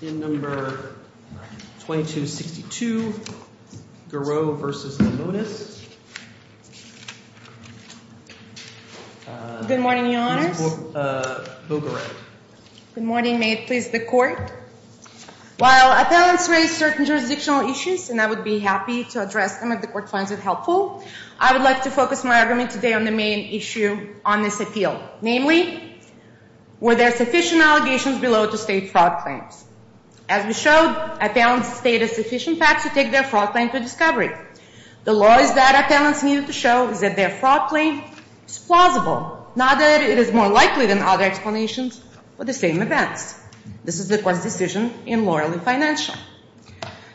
Good morning, your honors. Good morning. May it please the court. While appellants raise certain jurisdictional issues, and I would be happy to address them if the court finds it helpful, I would like to focus my argument today on the main issue on this appeal. Namely, were there sufficient allegations below to state fraud claims? As we showed, appellants stated sufficient facts to take their fraud claim to discovery. The law is that appellants needed to show that their fraud claim is plausible, not that it is more likely than other explanations for the same events. This is the court's decision in Laurel and Financial.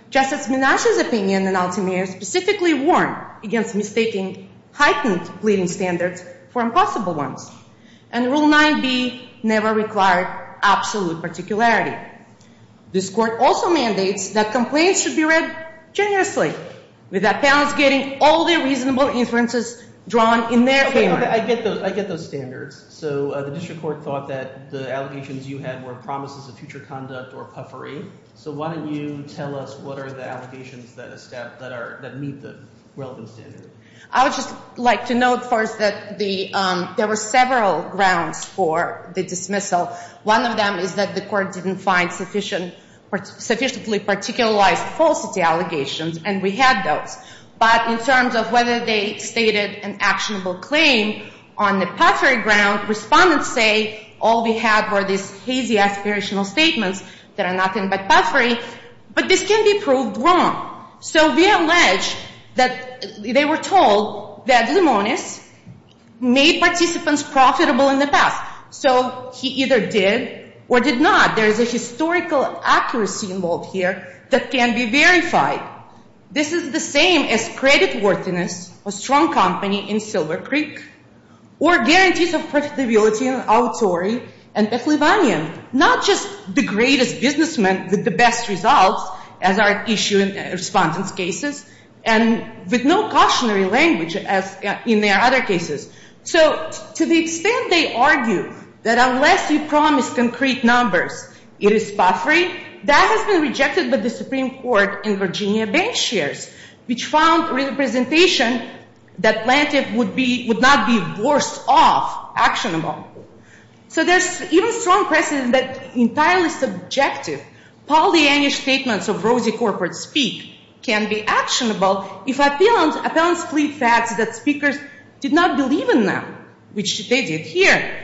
Justice Minash's opinion in Altimere specifically warned against mistaking heightened pleading standards for impossible ones, and Rule 9b never required absolute particularity. This court also mandates that complaints should be read generously, with appellants getting all their reasonable inferences drawn in their favor. I get those standards. So the district court thought that the allegations you had were promises of future conduct or puffery. So why don't you tell us what are the allegations that meet the relevant standard? I would just like to note first that there were several grounds for the dismissal. One of them is that the court didn't find sufficiently particularized falsity allegations, and we had those. But in terms of whether they stated an actionable claim on the puffery ground, respondents say all we had were these hazy aspirational statements that are nothing but puffery. But this can be proved wrong. So we allege that they were told that Limones made participants profitable in the past. So he either did or did not. There is a historical accuracy involved here that can be verified. This is the same as credit worthiness, a strong company in Silver Creek, or guarantees of profitability in Autori and Petalivanian, not just the greatest businessmen with the best results, as are issued in respondents' cases, and with no cautionary language as in their other cases. So to the extent they argue that unless you promise concrete numbers, it is puffery, that has been rejected by the Supreme Court and Virginia bank shares, which found representation that planted would not be worse off actionable. So there's even strong precedent that entirely subjective, Pollyannish statements of rosy corporate speak can be actionable if appellants flee facts that speakers did not believe in them, which they did here,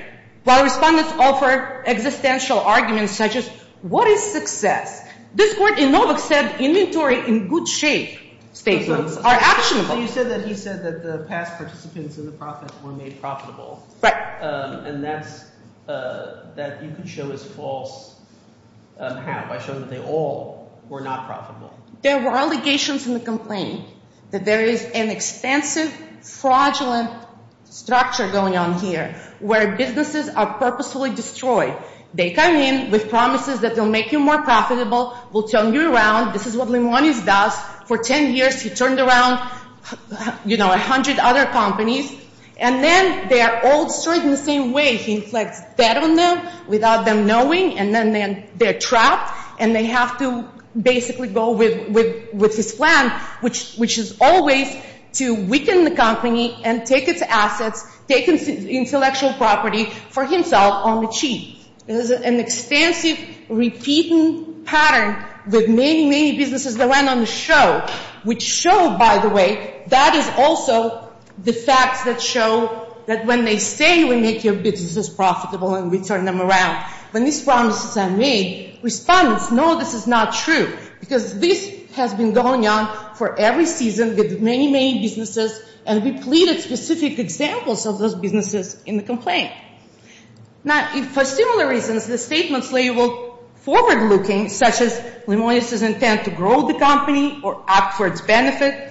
while respondents offer existential arguments such as, what is success? This court in Novak said inventory in good shape statements are actionable. So you said that he said that the past participants in the profit were made profitable. Right. And that's – that you can show is false. How? By showing that they all were not profitable. There were allegations in the complaint that there is an expensive, fraudulent structure going on here where businesses are purposefully destroyed. They come in with promises that they'll make you more profitable, will turn you around. This is what Limonis does. For 10 years, he turned around, you know, 100 other companies. And then they are all destroyed in the same way. He inflicts debt on them without them knowing, and then they're trapped, and they have to basically go with his plan, which is always to weaken the company and take its assets, take intellectual property for himself on the cheap. There's an expensive, repeating pattern with many, many businesses that went on the show, which showed, by the way, that is also the facts that show that when they say we make your businesses profitable and we turn them around, when these promises are made, respondents know this is not true. Because this has been going on for every season with many, many businesses, and we pleaded specific examples of those businesses in the complaint. Now, for similar reasons, the statements labeled forward-looking, such as Limonis' intent to grow the company or act for its benefit,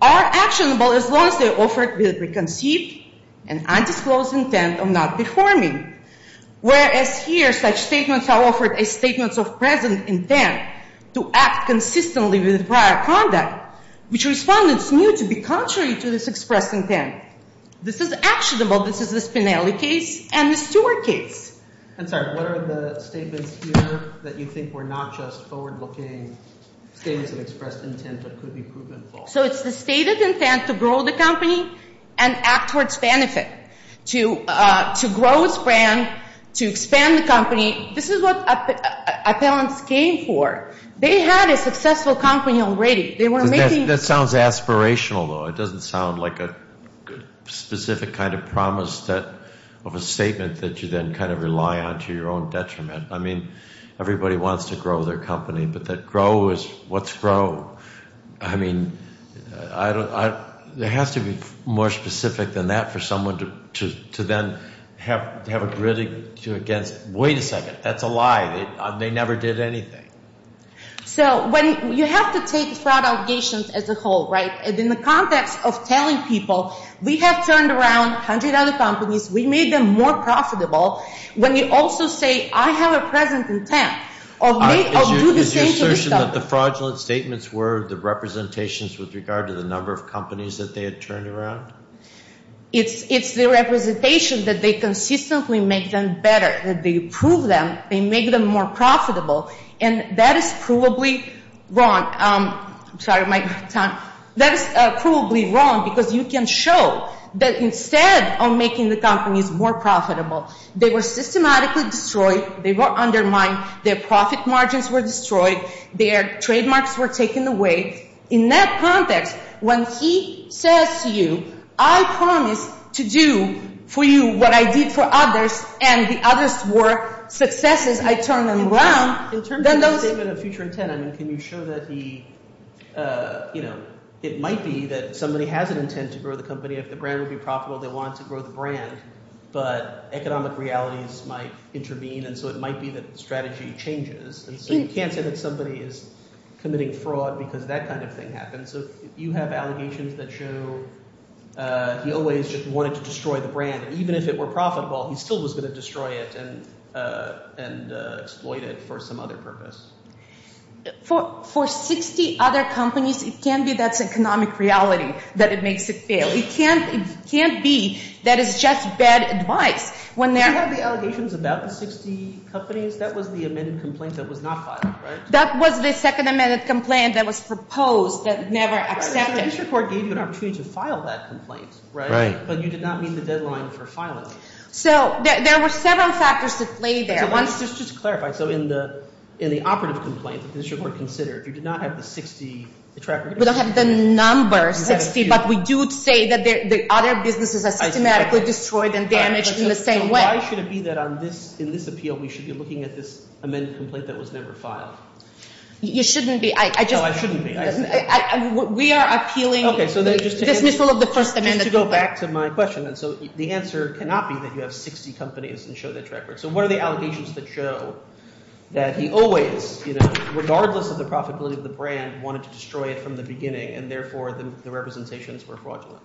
are actionable as long as they're offered with a preconceived and undisclosed intent of not performing. Whereas here, such statements are offered as statements of present intent to act consistently with prior conduct, which respondents knew to be contrary to this expressed intent. This is actionable. This is the Spinelli case and the Stewart case. I'm sorry. What are the statements here that you think were not just forward-looking statements of expressed intent that could be proven false? So it's the stated intent to grow the company and act towards benefit, to grow its brand, to expand the company. This is what appellants came for. They had a successful company already. They were making… That sounds aspirational, though. It doesn't sound like a specific kind of promise of a statement that you then kind of rely on to your own detriment. I mean, everybody wants to grow their company, but that grow is… What's grow? I mean, there has to be more specific than that for someone to then have a gritting to against. Wait a second. That's a lie. They never did anything. So you have to take fraud allegations as a whole, right? In the context of telling people we have turned around a hundred other companies, we made them more profitable, when you also say I have a present intent of do the same to this company. Is your assertion that the fraudulent statements were the representations with regard to the number of companies that they had turned around? It's the representation that they consistently make them better, that they prove them, they make them more profitable, and that is provably wrong. I'm sorry, my time. That is provably wrong because you can show that instead of making the companies more profitable, they were systematically destroyed, they were undermined, their profit margins were destroyed, their trademarks were taken away. In that context, when he says to you, I promise to do for you what I did for others and the others were successes, I turned them around, then those… It might be that somebody has an intent to grow the company. If the brand would be profitable, they want to grow the brand, but economic realities might intervene, and so it might be that the strategy changes. And so you can't say that somebody is committing fraud because that kind of thing happened. So you have allegations that show he always just wanted to destroy the brand, and even if it were profitable, he still was going to destroy it and exploit it for some other purpose. For 60 other companies, it can't be that's economic reality that it makes it fail. It can't be that it's just bad advice. Did you have the allegations about the 60 companies? That was the amended complaint that was not filed, right? That was the second amended complaint that was proposed that never accepted. So the district court gave you an opportunity to file that complaint, right? Right. But you did not meet the deadline for filing. So there were several factors at play there. Just to clarify, so in the operative complaint that the district court considered, you did not have the 60 track records? We don't have the number 60, but we do say that the other businesses are systematically destroyed and damaged in the same way. So why should it be that in this appeal we should be looking at this amended complaint that was never filed? You shouldn't be. No, I shouldn't be. We are appealing the dismissal of the first amended complaint. Okay, so just to go back to my question, and so the answer cannot be that you have 60 companies and show that track record. So what are the allegations that show that he always, you know, regardless of the profitability of the brand, wanted to destroy it from the beginning, and therefore the representations were fraudulent?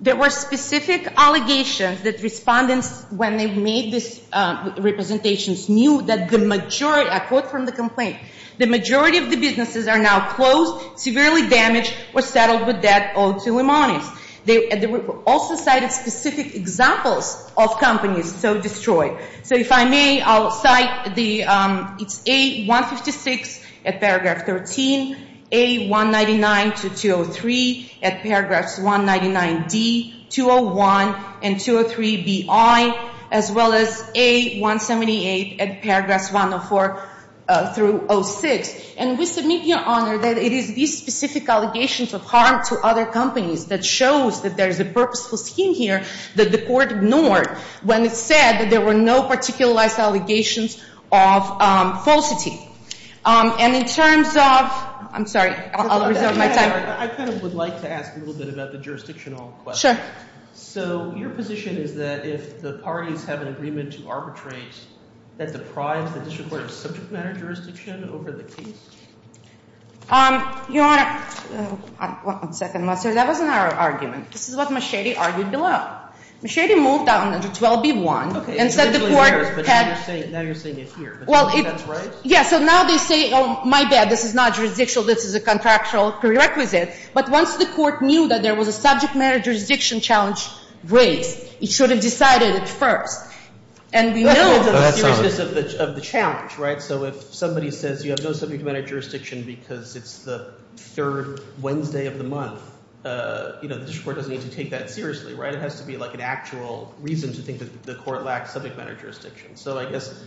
There were specific allegations that respondents, when they made these representations, knew that the majority, I quote from the complaint, the majority of the businesses are now closed, severely damaged, or settled with debt owed to Lemonis. They also cited specific examples of companies so destroyed. So if I may, I'll cite the, it's A156 at paragraph 13, A199 to 203 at paragraphs 199D, 201, and 203BI, as well as A178 at paragraphs 104 through 06. And we submit, Your Honor, that it is these specific allegations of harm to other companies that shows that there is a purposeful scheme here that the court ignored when it said that there were no particularized allegations of falsity. And in terms of, I'm sorry, I'll reserve my time. I kind of would like to ask a little bit about the jurisdictional question. Sure. So your position is that if the parties have an agreement to arbitrate that deprives the district court of subject matter jurisdiction over the case? Your Honor, one second, that wasn't our argument. This is what Machete argued below. Machete moved on to 12B1. Okay. And said the court had. Now you're saying it here. Well, it. That's right? Yeah, so now they say, oh, my bad, this is not jurisdictional. This is a contractual prerequisite. But once the court knew that there was a subject matter jurisdiction challenge raised, it should have decided it first. And we know. Go ahead, Sonia. The seriousness of the challenge, right? So if somebody says you have no subject matter jurisdiction because it's the third Wednesday of the month, you know, the district court doesn't need to take that seriously, right? It has to be like an actual reason to think that the court lacks subject matter jurisdiction. So I guess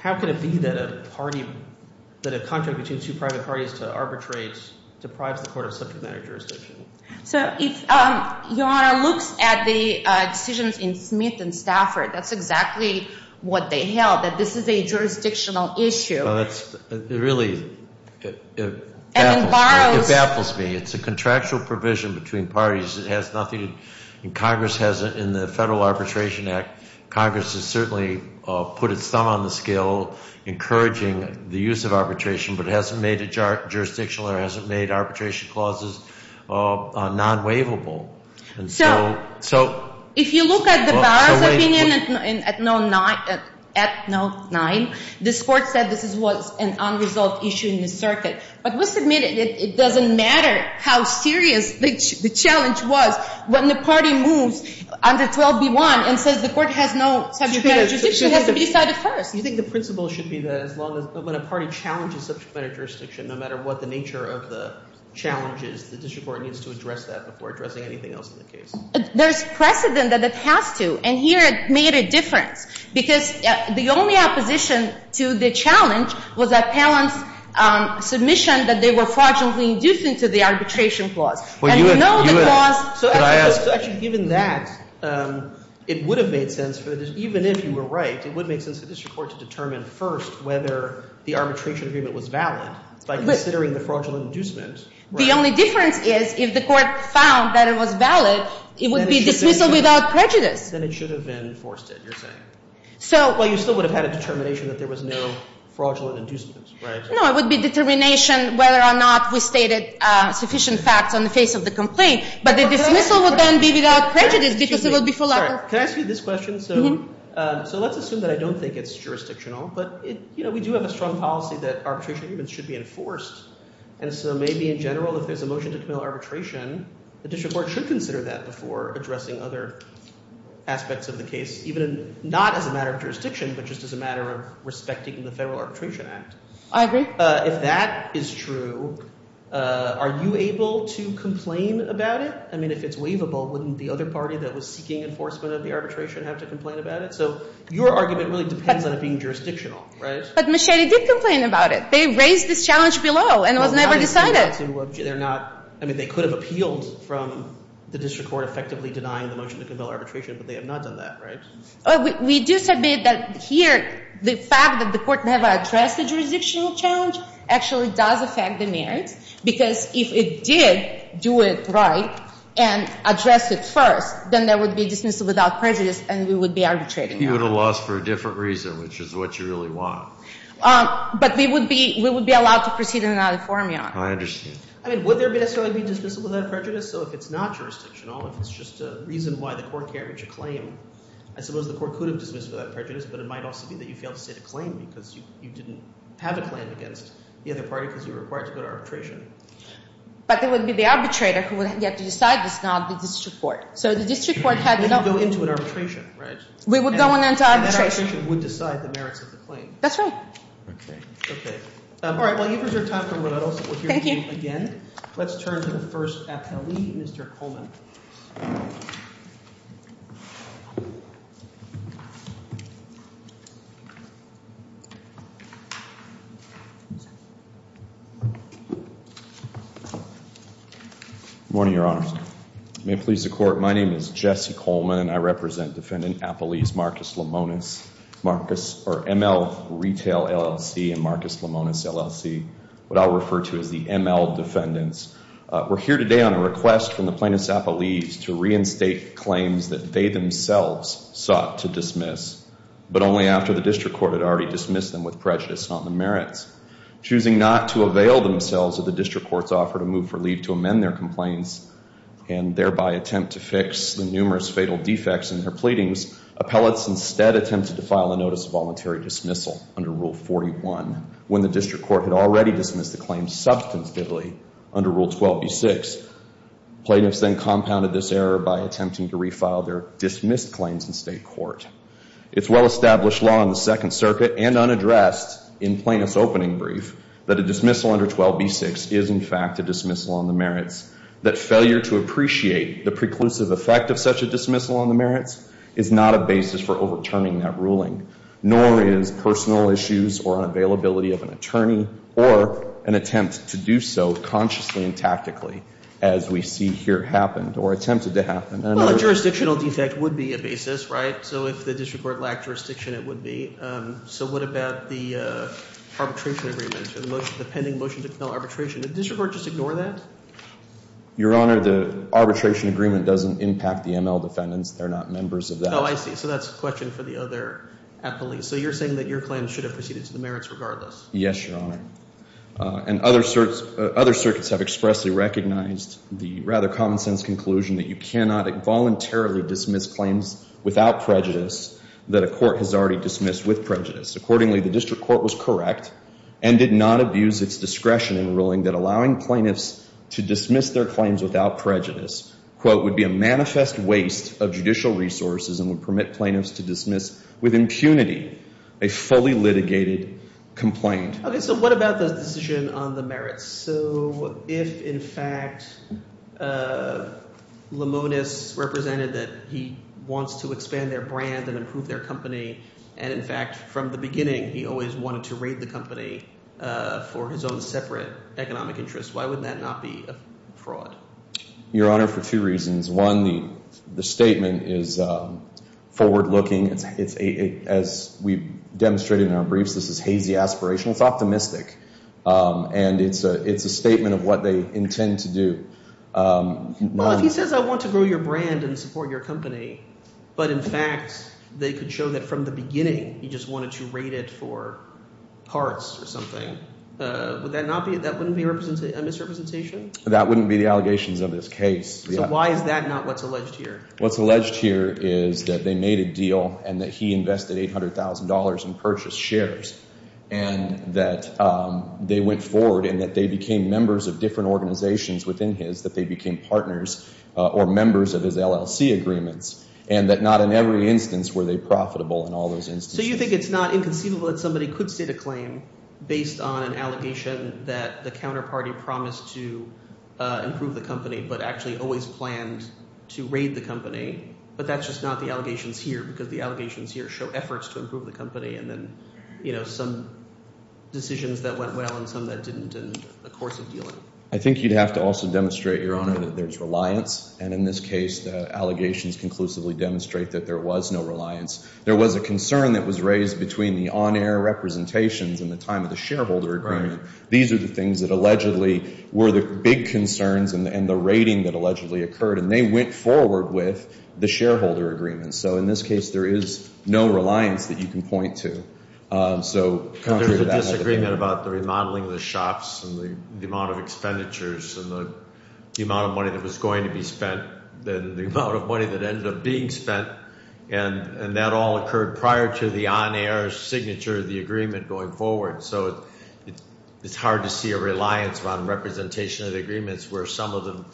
how could it be that a contract between two private parties to arbitrate deprives the court of subject matter jurisdiction? So if your Honor looks at the decisions in Smith and Stafford, that's exactly what they held, that this is a jurisdictional issue. Well, it really baffles me. It's a contractual provision between parties. It has nothing to do, and Congress has in the Federal Arbitration Act, Congress has certainly put its thumb on the scale encouraging the use of arbitration, but it hasn't made it jurisdictional or it hasn't made arbitration clauses non-waivable. So if you look at the Bowers opinion at note nine, this court said this was an unresolved issue in the circuit. But let's admit it, it doesn't matter how serious the challenge was when the party moves under 12B1 and says the court has no subject matter jurisdiction. It has to be decided first. Do you think the principle should be that when a party challenges subject matter jurisdiction, no matter what the nature of the challenge is, the district court needs to address that before addressing anything else in the case? There's precedent that it has to, and here it made a difference. Because the only opposition to the challenge was Appellant's submission that they were fraudulently inducing to the arbitration clause. And you know the clause. So actually, given that, it would have made sense for this, even if you were right, it would make sense for the district court to determine first whether the arbitration agreement was valid by considering the fraudulent inducement. The only difference is if the court found that it was valid, it would be dismissal without prejudice. Yes. Then it should have been enforced, you're saying. Well, you still would have had a determination that there was no fraudulent inducement, right? No, it would be determination whether or not we stated sufficient facts on the face of the complaint. But the dismissal would then be without prejudice because it would be full of- Can I ask you this question? So let's assume that I don't think it's jurisdictional, but we do have a strong policy that arbitration agreements should be enforced. And so maybe in general, if there's a motion to commit arbitration, the district court should consider that before addressing other aspects of the case, even not as a matter of jurisdiction, but just as a matter of respecting the Federal Arbitration Act. I agree. If that is true, are you able to complain about it? I mean, if it's waivable, wouldn't the other party that was seeking enforcement of the arbitration have to complain about it? So your argument really depends on it being jurisdictional, right? But Machete did complain about it. They raised this challenge below and it was never decided. They're not – I mean, they could have appealed from the district court effectively denying the motion to compel arbitration, but they have not done that, right? We do submit that here the fact that the court never addressed the jurisdictional challenge actually does affect the merits because if it did do it right and address it first, then there would be dismissal without prejudice and we would be arbitrating. You would have lost for a different reason, which is what you really want. But we would be – we would be allowed to proceed in another formula. I understand. I mean, would there necessarily be dismissal without prejudice? So if it's not jurisdictional, if it's just a reason why the court carried your claim, I suppose the court could have dismissed it without prejudice, but it might also be that you failed to state a claim because you didn't have a claim against the other party because you were required to go to arbitration. But it would be the arbitrator who would get to decide this, not the district court. So the district court had – We would go into an arbitration, right? We would go into arbitration. That arbitration would decide the merits of the claim. That's right. Okay. Okay. All right. While you preserve time for rebuttals, we'll hear from you again. Thank you. Let's turn to the first appellee, Mr. Coleman. Good morning, Your Honors. May it please the court, my name is Jesse Coleman and I represent Defendant Appellees Marcus Lomonas, Marcus – or ML Retail, LLC, and Marcus Lomonas, LLC, what I'll refer to as the ML defendants. We're here today on a request from the plaintiffs' appellees to reinstate claims that they themselves sought to dismiss, but only after the district court had already dismissed them with prejudice, not the merits. Choosing not to avail themselves of the district court's offer to move for leave to amend their complaints and thereby attempt to fix the numerous fatal defects in their pleadings, appellates instead attempted to file a notice of voluntary dismissal under Rule 41 when the district court had already dismissed the claims substantively under Rule 12b-6. Plaintiffs then compounded this error by attempting to refile their dismissed claims in state court. It's well-established law in the Second Circuit and unaddressed in plaintiff's opening brief that a dismissal under 12b-6 is in fact a dismissal on the merits, that failure to appreciate the preclusive effect of such a dismissal on the merits is not a basis for overturning that ruling, nor is personal issues or unavailability of an attorney or an attempt to do so consciously and tactically as we see here happened or attempted to happen. Well, a jurisdictional defect would be a basis, right? So if the district court lacked jurisdiction, it would be. So what about the arbitration agreement, the pending motion to compel arbitration? Did the district court just ignore that? Your Honor, the arbitration agreement doesn't impact the ML defendants. They're not members of that. Oh, I see. So that's a question for the other appellees. So you're saying that your claim should have proceeded to the merits regardless. Yes, Your Honor. And other circuits have expressly recognized the rather common-sense conclusion that you cannot voluntarily dismiss claims without prejudice that a court has already dismissed with prejudice. Accordingly, the district court was correct and did not abuse its discretion in ruling that allowing plaintiffs to dismiss their claims without prejudice would be a manifest waste of judicial resources and would permit plaintiffs to dismiss with impunity a fully litigated complaint. Okay. So what about the decision on the merits? So if in fact Limonis represented that he wants to expand their brand and improve their company and in fact from the beginning he always wanted to raid the company for his own separate economic interest, why would that not be a fraud? Your Honor, for two reasons. One, the statement is forward-looking. As we demonstrated in our briefs, this is hazy aspirational. It's optimistic, and it's a statement of what they intend to do. Well, if he says I want to grow your brand and support your company, but in fact they could show that from the beginning he just wanted to raid it for parts or something, would that not be – that wouldn't be a misrepresentation? That wouldn't be the allegations of this case. So why is that not what's alleged here? What's alleged here is that they made a deal and that he invested $800,000 in purchased shares, and that they went forward and that they became members of different organizations within his, that they became partners or members of his LLC agreements, and that not in every instance were they profitable in all those instances. So you think it's not inconceivable that somebody could sit a claim based on an allegation that the counterparty promised to improve the company but actually always planned to raid the company, but that's just not the allegations here because the allegations here show efforts to improve the company and then some decisions that went well and some that didn't in the course of dealing. I think you'd have to also demonstrate, Your Honor, that there's reliance, and in this case the allegations conclusively demonstrate that there was no reliance. There was a concern that was raised between the on-air representations and the time of the shareholder agreement. These are the things that allegedly were the big concerns and the raiding that allegedly occurred, and they went forward with the shareholder agreement. So in this case there is no reliance that you can point to. So contrary to that. There's a disagreement about the remodeling of the shops and the amount of expenditures and the amount of money that was going to be spent and the amount of money that ended up being spent, and that all occurred prior to the on-air signature of the agreement going forward. So it's hard to see a reliance on representation of the agreements where some of the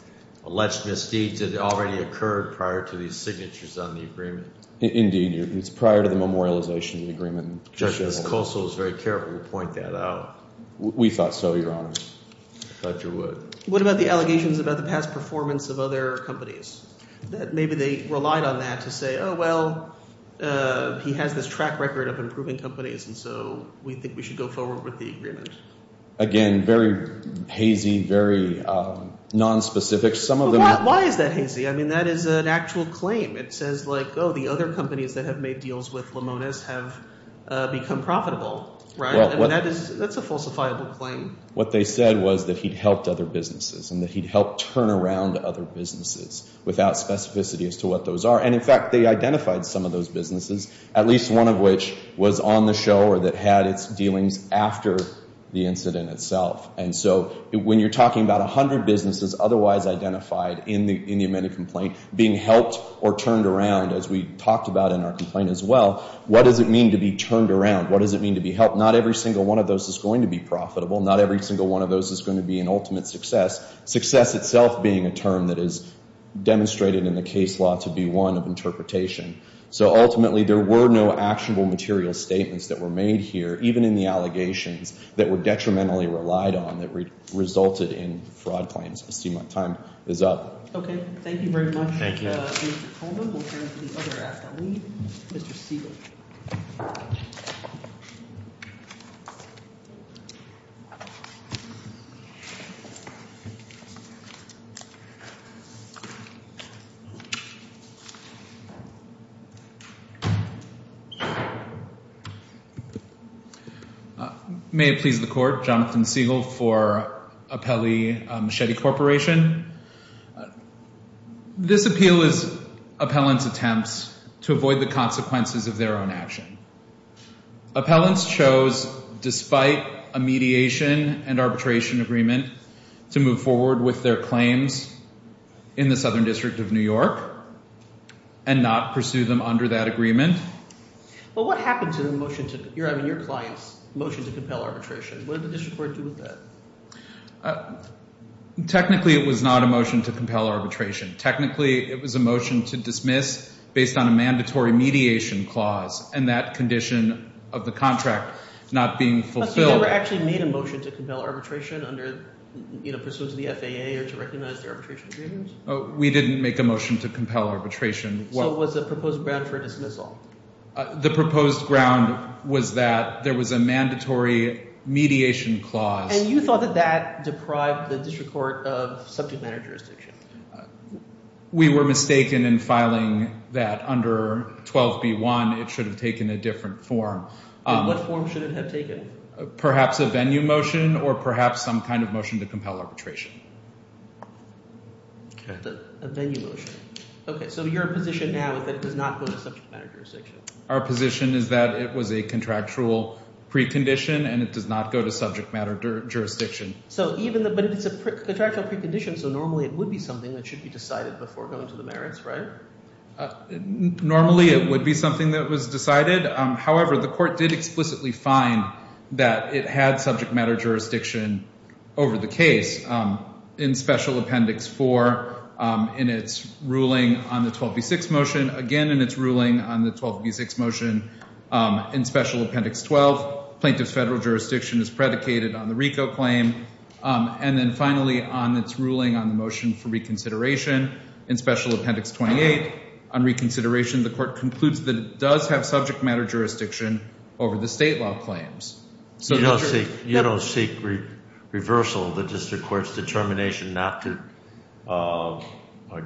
alleged misdeeds had already occurred prior to these signatures on the agreement. Indeed. It's prior to the memorialization of the agreement. Justice Kossel is very careful to point that out. We thought so, Your Honor. I thought you would. What about the allegations about the past performance of other companies? Maybe they relied on that to say, oh, well, he has this track record of improving companies, and so we think we should go forward with the agreement. Again, very hazy, very nonspecific. Why is that hazy? I mean that is an actual claim. It says like, oh, the other companies that have made deals with Limones have become profitable. That's a falsifiable claim. What they said was that he'd helped other businesses and that he'd helped turn around other businesses without specificity as to what those are, and in fact they identified some of those businesses, at least one of which was on the show or that had its dealings after the incident itself. And so when you're talking about 100 businesses otherwise identified in the amended complaint being helped or turned around, as we talked about in our complaint as well, what does it mean to be turned around? What does it mean to be helped? Not every single one of those is going to be profitable. Not every single one of those is going to be an ultimate success, success itself being a term that is demonstrated in the case law to be one of interpretation. So ultimately there were no actionable material statements that were made here, even in the allegations that were detrimentally relied on that resulted in fraud claims. I see my time is up. Okay. Thank you very much, Mr. Coleman. We'll turn it to the other appellee, Mr. Siegel. May it please the Court. Jonathan Siegel for Appellee Machete Corporation. This appeal is appellant's attempts to avoid the consequences of their own action. Appellants chose, despite a mediation and arbitration agreement, to move forward with their claims in the Southern District of New York and not pursue them under that agreement. But what happened to the motion to—I mean your client's motion to compel arbitration? What did the district court do with that? Technically it was not a motion to compel arbitration. Technically it was a motion to dismiss based on a mandatory mediation clause and that condition of the contract not being fulfilled. But you never actually made a motion to compel arbitration under pursuance of the FAA or to recognize their arbitration agreements? We didn't make a motion to compel arbitration. So it was a proposed ground for dismissal? The proposed ground was that there was a mandatory mediation clause. And you thought that that deprived the district court of subject matter jurisdiction? We were mistaken in filing that under 12B1. It should have taken a different form. What form should it have taken? Perhaps a venue motion or perhaps some kind of motion to compel arbitration. A venue motion. Okay, so your position now is that it does not go to subject matter jurisdiction? Our position is that it was a contractual precondition and it does not go to subject matter jurisdiction. But it's a contractual precondition, so normally it would be something that should be decided before going to the merits, right? Normally it would be something that was decided. However, the court did explicitly find that it had subject matter jurisdiction over the case. In Special Appendix 4, in its ruling on the 12B6 motion, again in its ruling on the 12B6 motion, in Special Appendix 12, plaintiff's federal jurisdiction is predicated on the RICO claim. And then finally, on its ruling on the motion for reconsideration, in Special Appendix 28, on reconsideration, the court concludes that it does have subject matter jurisdiction over the state law claims. You don't seek reversal of the district court's determination not to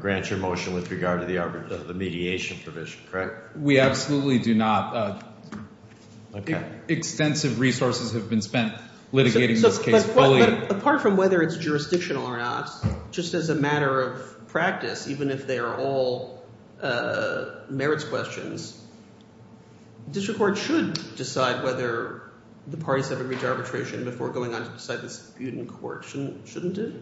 grant your motion with regard to the mediation provision, correct? We absolutely do not. Extensive resources have been spent litigating this case fully. But apart from whether it's jurisdictional or not, just as a matter of practice, even if they are all merits questions, district court should decide whether the parties have agreed to arbitration before going on to decide the dispute in court, shouldn't it?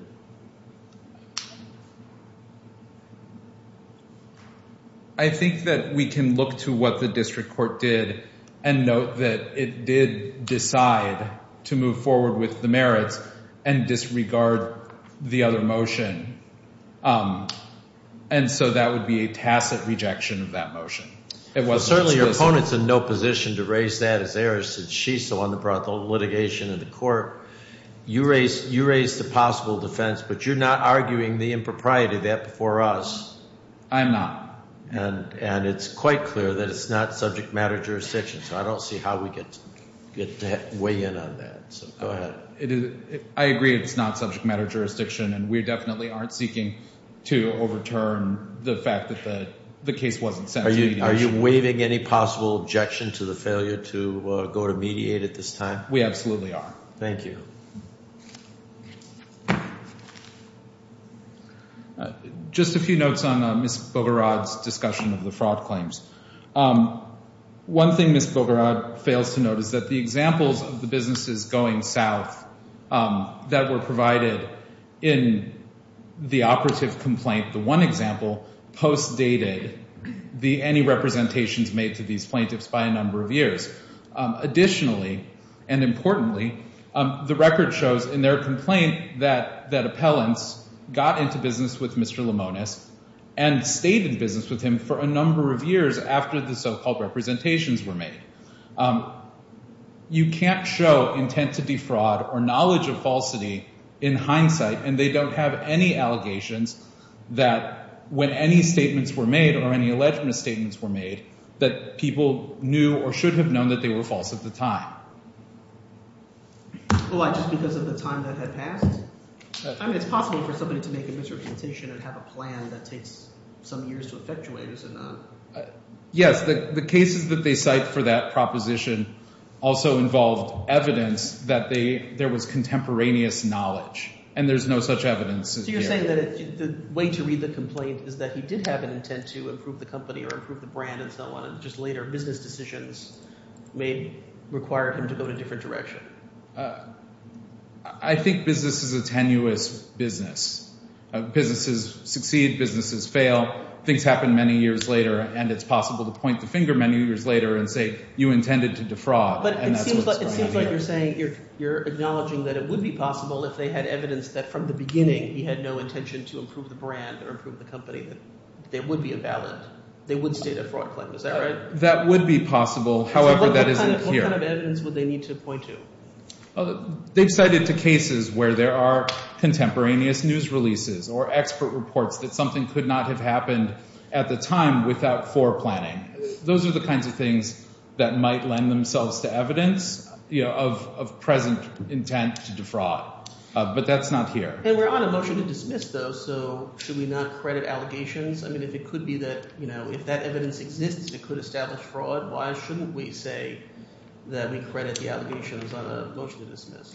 I think that we can look to what the district court did and note that it did decide to move forward with the merits and disregard the other motion. And so that would be a tacit rejection of that motion. Certainly your opponent's in no position to raise that as errors, since she's the one that brought the litigation to the court. You raised the possible defendant, but you're not arguing the impropriety of that before us. I am not. And it's quite clear that it's not subject matter jurisdiction, so I don't see how we get to weigh in on that. So go ahead. I agree it's not subject matter jurisdiction, and we definitely aren't seeking to overturn the fact that the case wasn't sent to mediation. Are you waiving any possible objection to the failure to go to mediate at this time? We absolutely are. Thank you. Just a few notes on Ms. Bogorod's discussion of the fraud claims. One thing Ms. Bogorod fails to note is that the examples of the businesses going south that were provided in the operative complaint, the one example, postdated any representations made to these plaintiffs by a number of years. Additionally, and importantly, the record shows in their complaint that appellants got into business with Mr. Limones and stayed in business with him for a number of years after the so-called representations were made. You can't show intent to defraud or knowledge of falsity in hindsight, and they don't have any allegations that when any statements were made or any alleged misstatements were made that people knew or should have known that they were false at the time. Why, just because of the time that had passed? I mean it's possible for somebody to make a misrepresentation and have a plan that takes some years to effectuate, is it not? Yes. The cases that they cite for that proposition also involved evidence that they – there was contemporaneous knowledge, and there's no such evidence as yet. So you're saying that the way to read the complaint is that he did have an intent to improve the company or improve the brand and so on, and just later business decisions may require him to go in a different direction. I think business is a tenuous business. Businesses succeed, businesses fail. Things happen many years later, and it's possible to point the finger many years later and say you intended to defraud, and that's what's going on here. But it seems like you're saying you're acknowledging that it would be possible if they had evidence that from the beginning he had no intention to improve the brand or improve the company that there would be a ballot. They would state a fraud claim. Is that right? That would be possible. However, that isn't here. So what kind of evidence would they need to point to? They've cited the cases where there are contemporaneous news releases or expert reports that something could not have happened at the time without foreplanning. Those are the kinds of things that might lend themselves to evidence of present intent to defraud. But that's not here. And we're on a motion to dismiss, though, so should we not credit allegations? I mean if it could be that if that evidence exists it could establish fraud, why shouldn't we say that we credit the allegations on a motion to dismiss?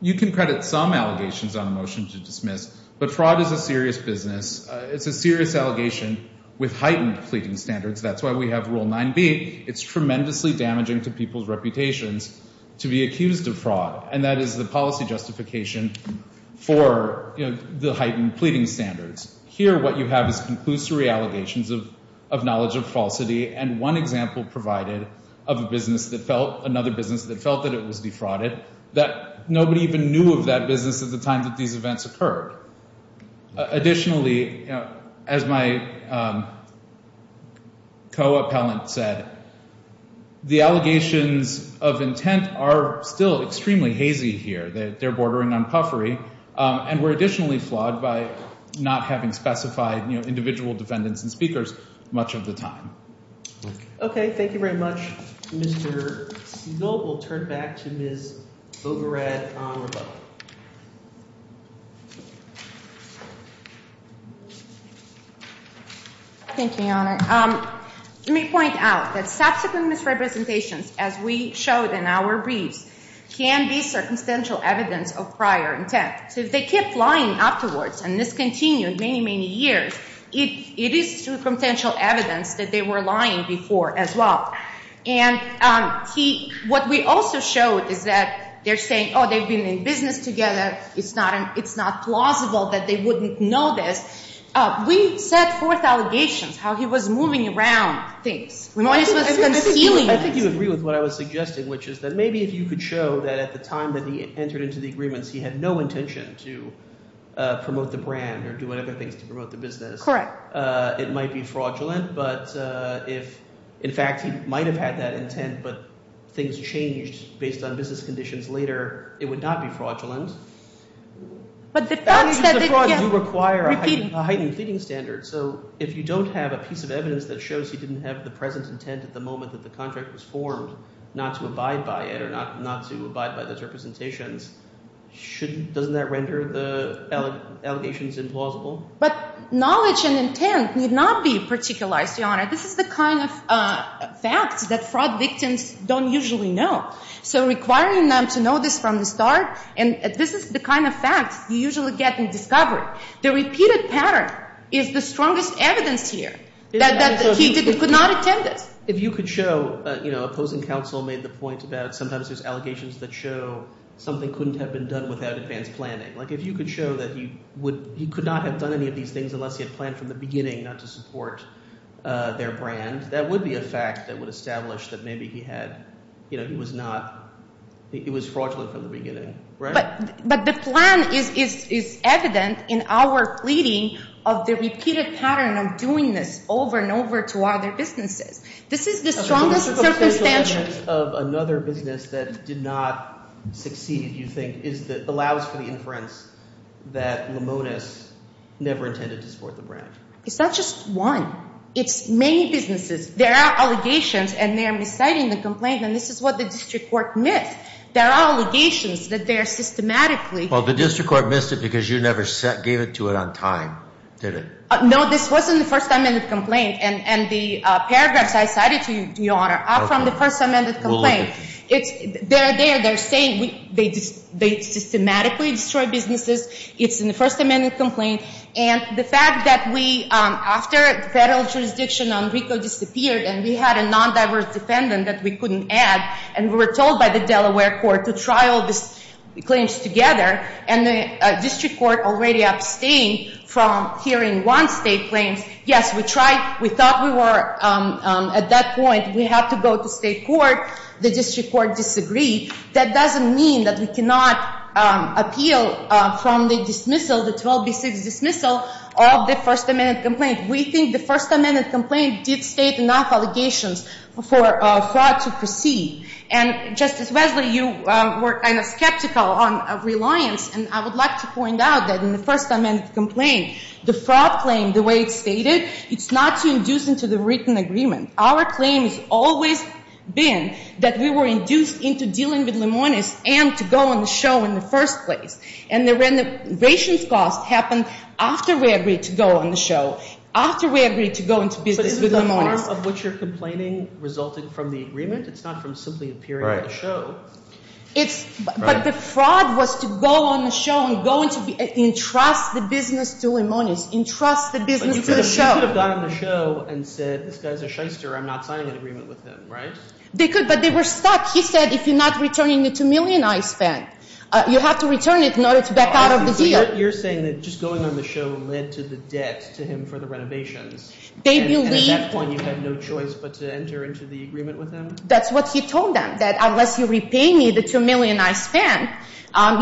You can credit some allegations on a motion to dismiss, but fraud is a serious business. It's a serious allegation with heightened pleading standards. That's why we have Rule 9B. It's tremendously damaging to people's reputations to be accused of fraud, and that is the policy justification for the heightened pleading standards. Here what you have is conclusory allegations of knowledge of falsity and one example provided of another business that felt that it was defrauded, that nobody even knew of that business at the time that these events occurred. Additionally, as my co-appellant said, the allegations of intent are still extremely hazy here. They're bordering on puffery, and were additionally flawed by not having specified individual defendants and speakers much of the time. Okay, thank you very much, Mr. Seville. We'll turn back to Ms. Bogorad on rebuttal. Thank you, Your Honor. Let me point out that subsequent misrepresentations as we showed in our briefs can be circumstantial evidence of prior intent. So if they kept lying afterwards and discontinued many, many years, it is circumstantial evidence that they were lying before as well. And what we also showed is that they're saying, oh, they've been in business together. It's not plausible that they wouldn't know this. We set forth allegations how he was moving around things. I think you agree with what I was suggesting, which is that maybe if you could show that at the time that he entered into the agreements, he had no intention to promote the brand or do other things to promote the business. Correct. It might be fraudulent. But if, in fact, he might have had that intent, but things changed based on business conditions later, it would not be fraudulent. But the facts that they— The frauds do require a heightened pleading standard. So if you don't have a piece of evidence that shows he didn't have the present intent at the moment that the contract was formed, not to abide by it or not to abide by those representations, doesn't that render the allegations implausible? But knowledge and intent need not be particularized, Your Honor. This is the kind of fact that fraud victims don't usually know. So requiring them to know this from the start, and this is the kind of fact you usually get in discovery. The repeated pattern is the strongest evidence here that he could not attend it. If you could show—you know, opposing counsel made the point about sometimes there's allegations that show something couldn't have been done without advanced planning. Like if you could show that he would—he could not have done any of these things unless he had planned from the beginning not to support their brand, that would be a fact that would establish that maybe he had—you know, he was not—he was fraudulent from the beginning. But the plan is evident in our pleading of the repeated pattern of doing this over and over to other businesses. This is the strongest circumstance. Another business that did not succeed, you think, is that allows for the inference that Limones never intended to support the brand. It's not just one. It's many businesses. There are allegations, and they are reciting the complaint, and this is what the district court missed. There are allegations that they are systematically— Well, the district court missed it because you never gave it to it on time, did it? No, this was in the first amended complaint, and the paragraphs I cited to you, Your Honor, are from the first amended complaint. They're there. They're saying they systematically destroy businesses. It's in the first amended complaint. And the fact that we—after the federal jurisdiction on Rico disappeared and we had a non-diverse defendant that we couldn't add, and we were told by the Delaware court to trial these claims together, and the district court already abstained from hearing one state claim. Yes, we tried. We thought we were at that point. We had to go to state court. The district court disagreed. That doesn't mean that we cannot appeal from the dismissal, the 12B6 dismissal of the first amended complaint. We think the first amended complaint did state enough allegations for fraud to proceed. And, Justice Wesley, you were kind of skeptical on reliance, and I would like to point out that in the first amended complaint, the fraud claim, the way it's stated, it's not to induce into the written agreement. Our claim has always been that we were induced into dealing with Limones and to go on the show in the first place. And the rations cost happened after we agreed to go on the show, after we agreed to go into business with Limones. But isn't the harm of what you're complaining resulting from the agreement? It's not from simply appearing on the show. Right. It's—but the fraud was to go on the show and go into—entrust the business to Limones, entrust the business to the show. But you could have gone on the show and said, this guy's a shyster. I'm not signing an agreement with him, right? They could, but they were stuck. He said, if you're not returning the $2 million I spent, you have to return it in order to back out of the deal. You're saying that just going on the show led to the debt to him for the renovations. They believed— And at that point you had no choice but to enter into the agreement with them? That's what he told them, that unless you repay me the $2 million I spent,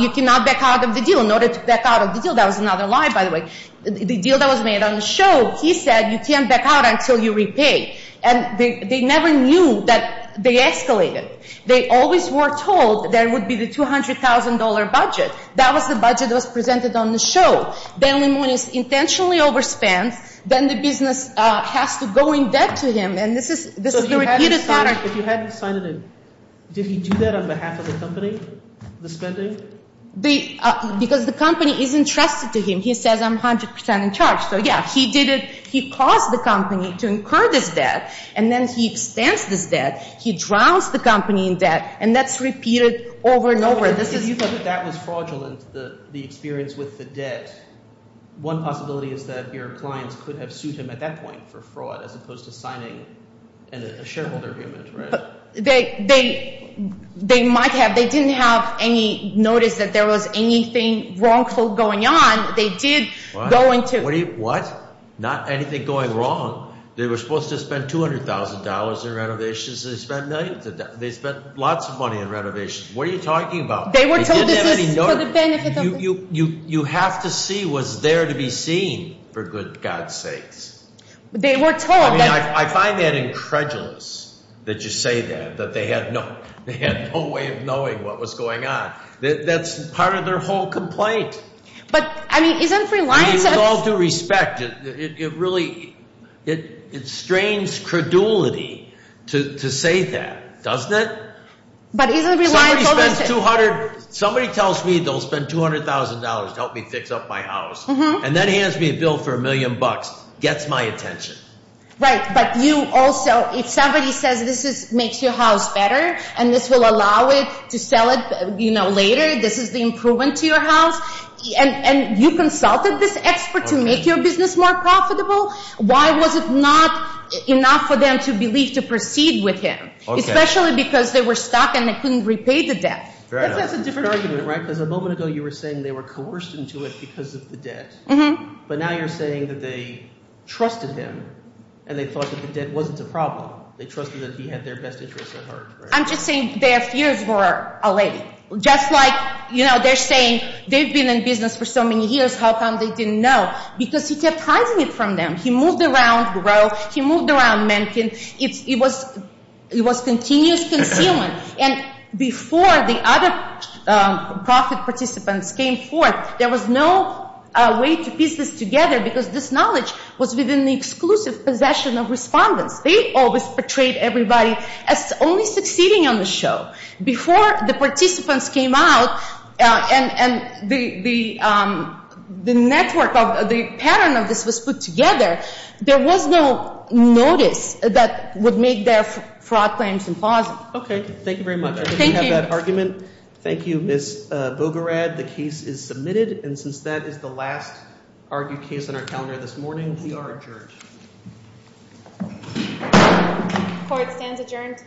you cannot back out of the deal. In order to back out of the deal—that was another lie, by the way—the deal that was made on the show, he said, you can't back out until you repay. And they never knew that they escalated. They always were told there would be the $200,000 budget. That was the budget that was presented on the show. Then Limones intentionally overspent. Then the business has to go in debt to him. And this is the repeated pattern. So if you hadn't signed it in, did he do that on behalf of the company, the spending? Because the company is entrusted to him. He says, I'm 100 percent in charge. So, yeah, he caused the company to incur this debt, and then he expends this debt. He drowns the company in debt, and that's repeated over and over. If you thought that that was fraudulent, the experience with the debt, one possibility is that your clients could have sued him at that point for fraud as opposed to signing a shareholder agreement, right? They might have. They didn't have any notice that there was anything wrongful going on. They did go into— What? Not anything going wrong. They were supposed to spend $200,000 in renovations. They spent millions of dollars. They spent lots of money in renovations. What are you talking about? They were told this is for the benefit of the— You have to see what's there to be seen, for good God's sakes. They were told that— I find that incredulous that you say that, that they had no way of knowing what was going on. That's part of their whole complaint. But, I mean, isn't Reliance— With all due respect, it really—it strains credulity to say that, doesn't it? But isn't Reliance— Somebody tells me they'll spend $200,000 to help me fix up my house, and then hands me a bill for a million bucks. Gets my attention. Right, but you also—if somebody says this makes your house better and this will allow it to sell it later, this is the improvement to your house, and you consulted this expert to make your business more profitable, why was it not enough for them to believe to proceed with him? Especially because they were stuck and they couldn't repay the debt. That's a different argument, right? Because a moment ago you were saying they were coerced into it because of the debt. But now you're saying that they trusted him and they thought that the debt wasn't a problem. They trusted that he had their best interests at heart. I'm just saying their fears were allayed. Just like, you know, they're saying they've been in business for so many years. How come they didn't know? Because he kept hiding it from them. He moved around growth. He moved around mankind. It was continuous concealment. And before the other profit participants came forth, there was no way to piece this together because this knowledge was within the exclusive possession of respondents. They always portrayed everybody as only succeeding on the show. Before the participants came out and the network of the pattern of this was put together, there was no notice that would make their fraud claims impossible. Okay. Thank you very much. I think we have that argument. Thank you, Ms. Bogorad. The case is submitted. And since that is the last argued case on our calendar this morning, we are adjourned. Court stands adjourned. Thank you.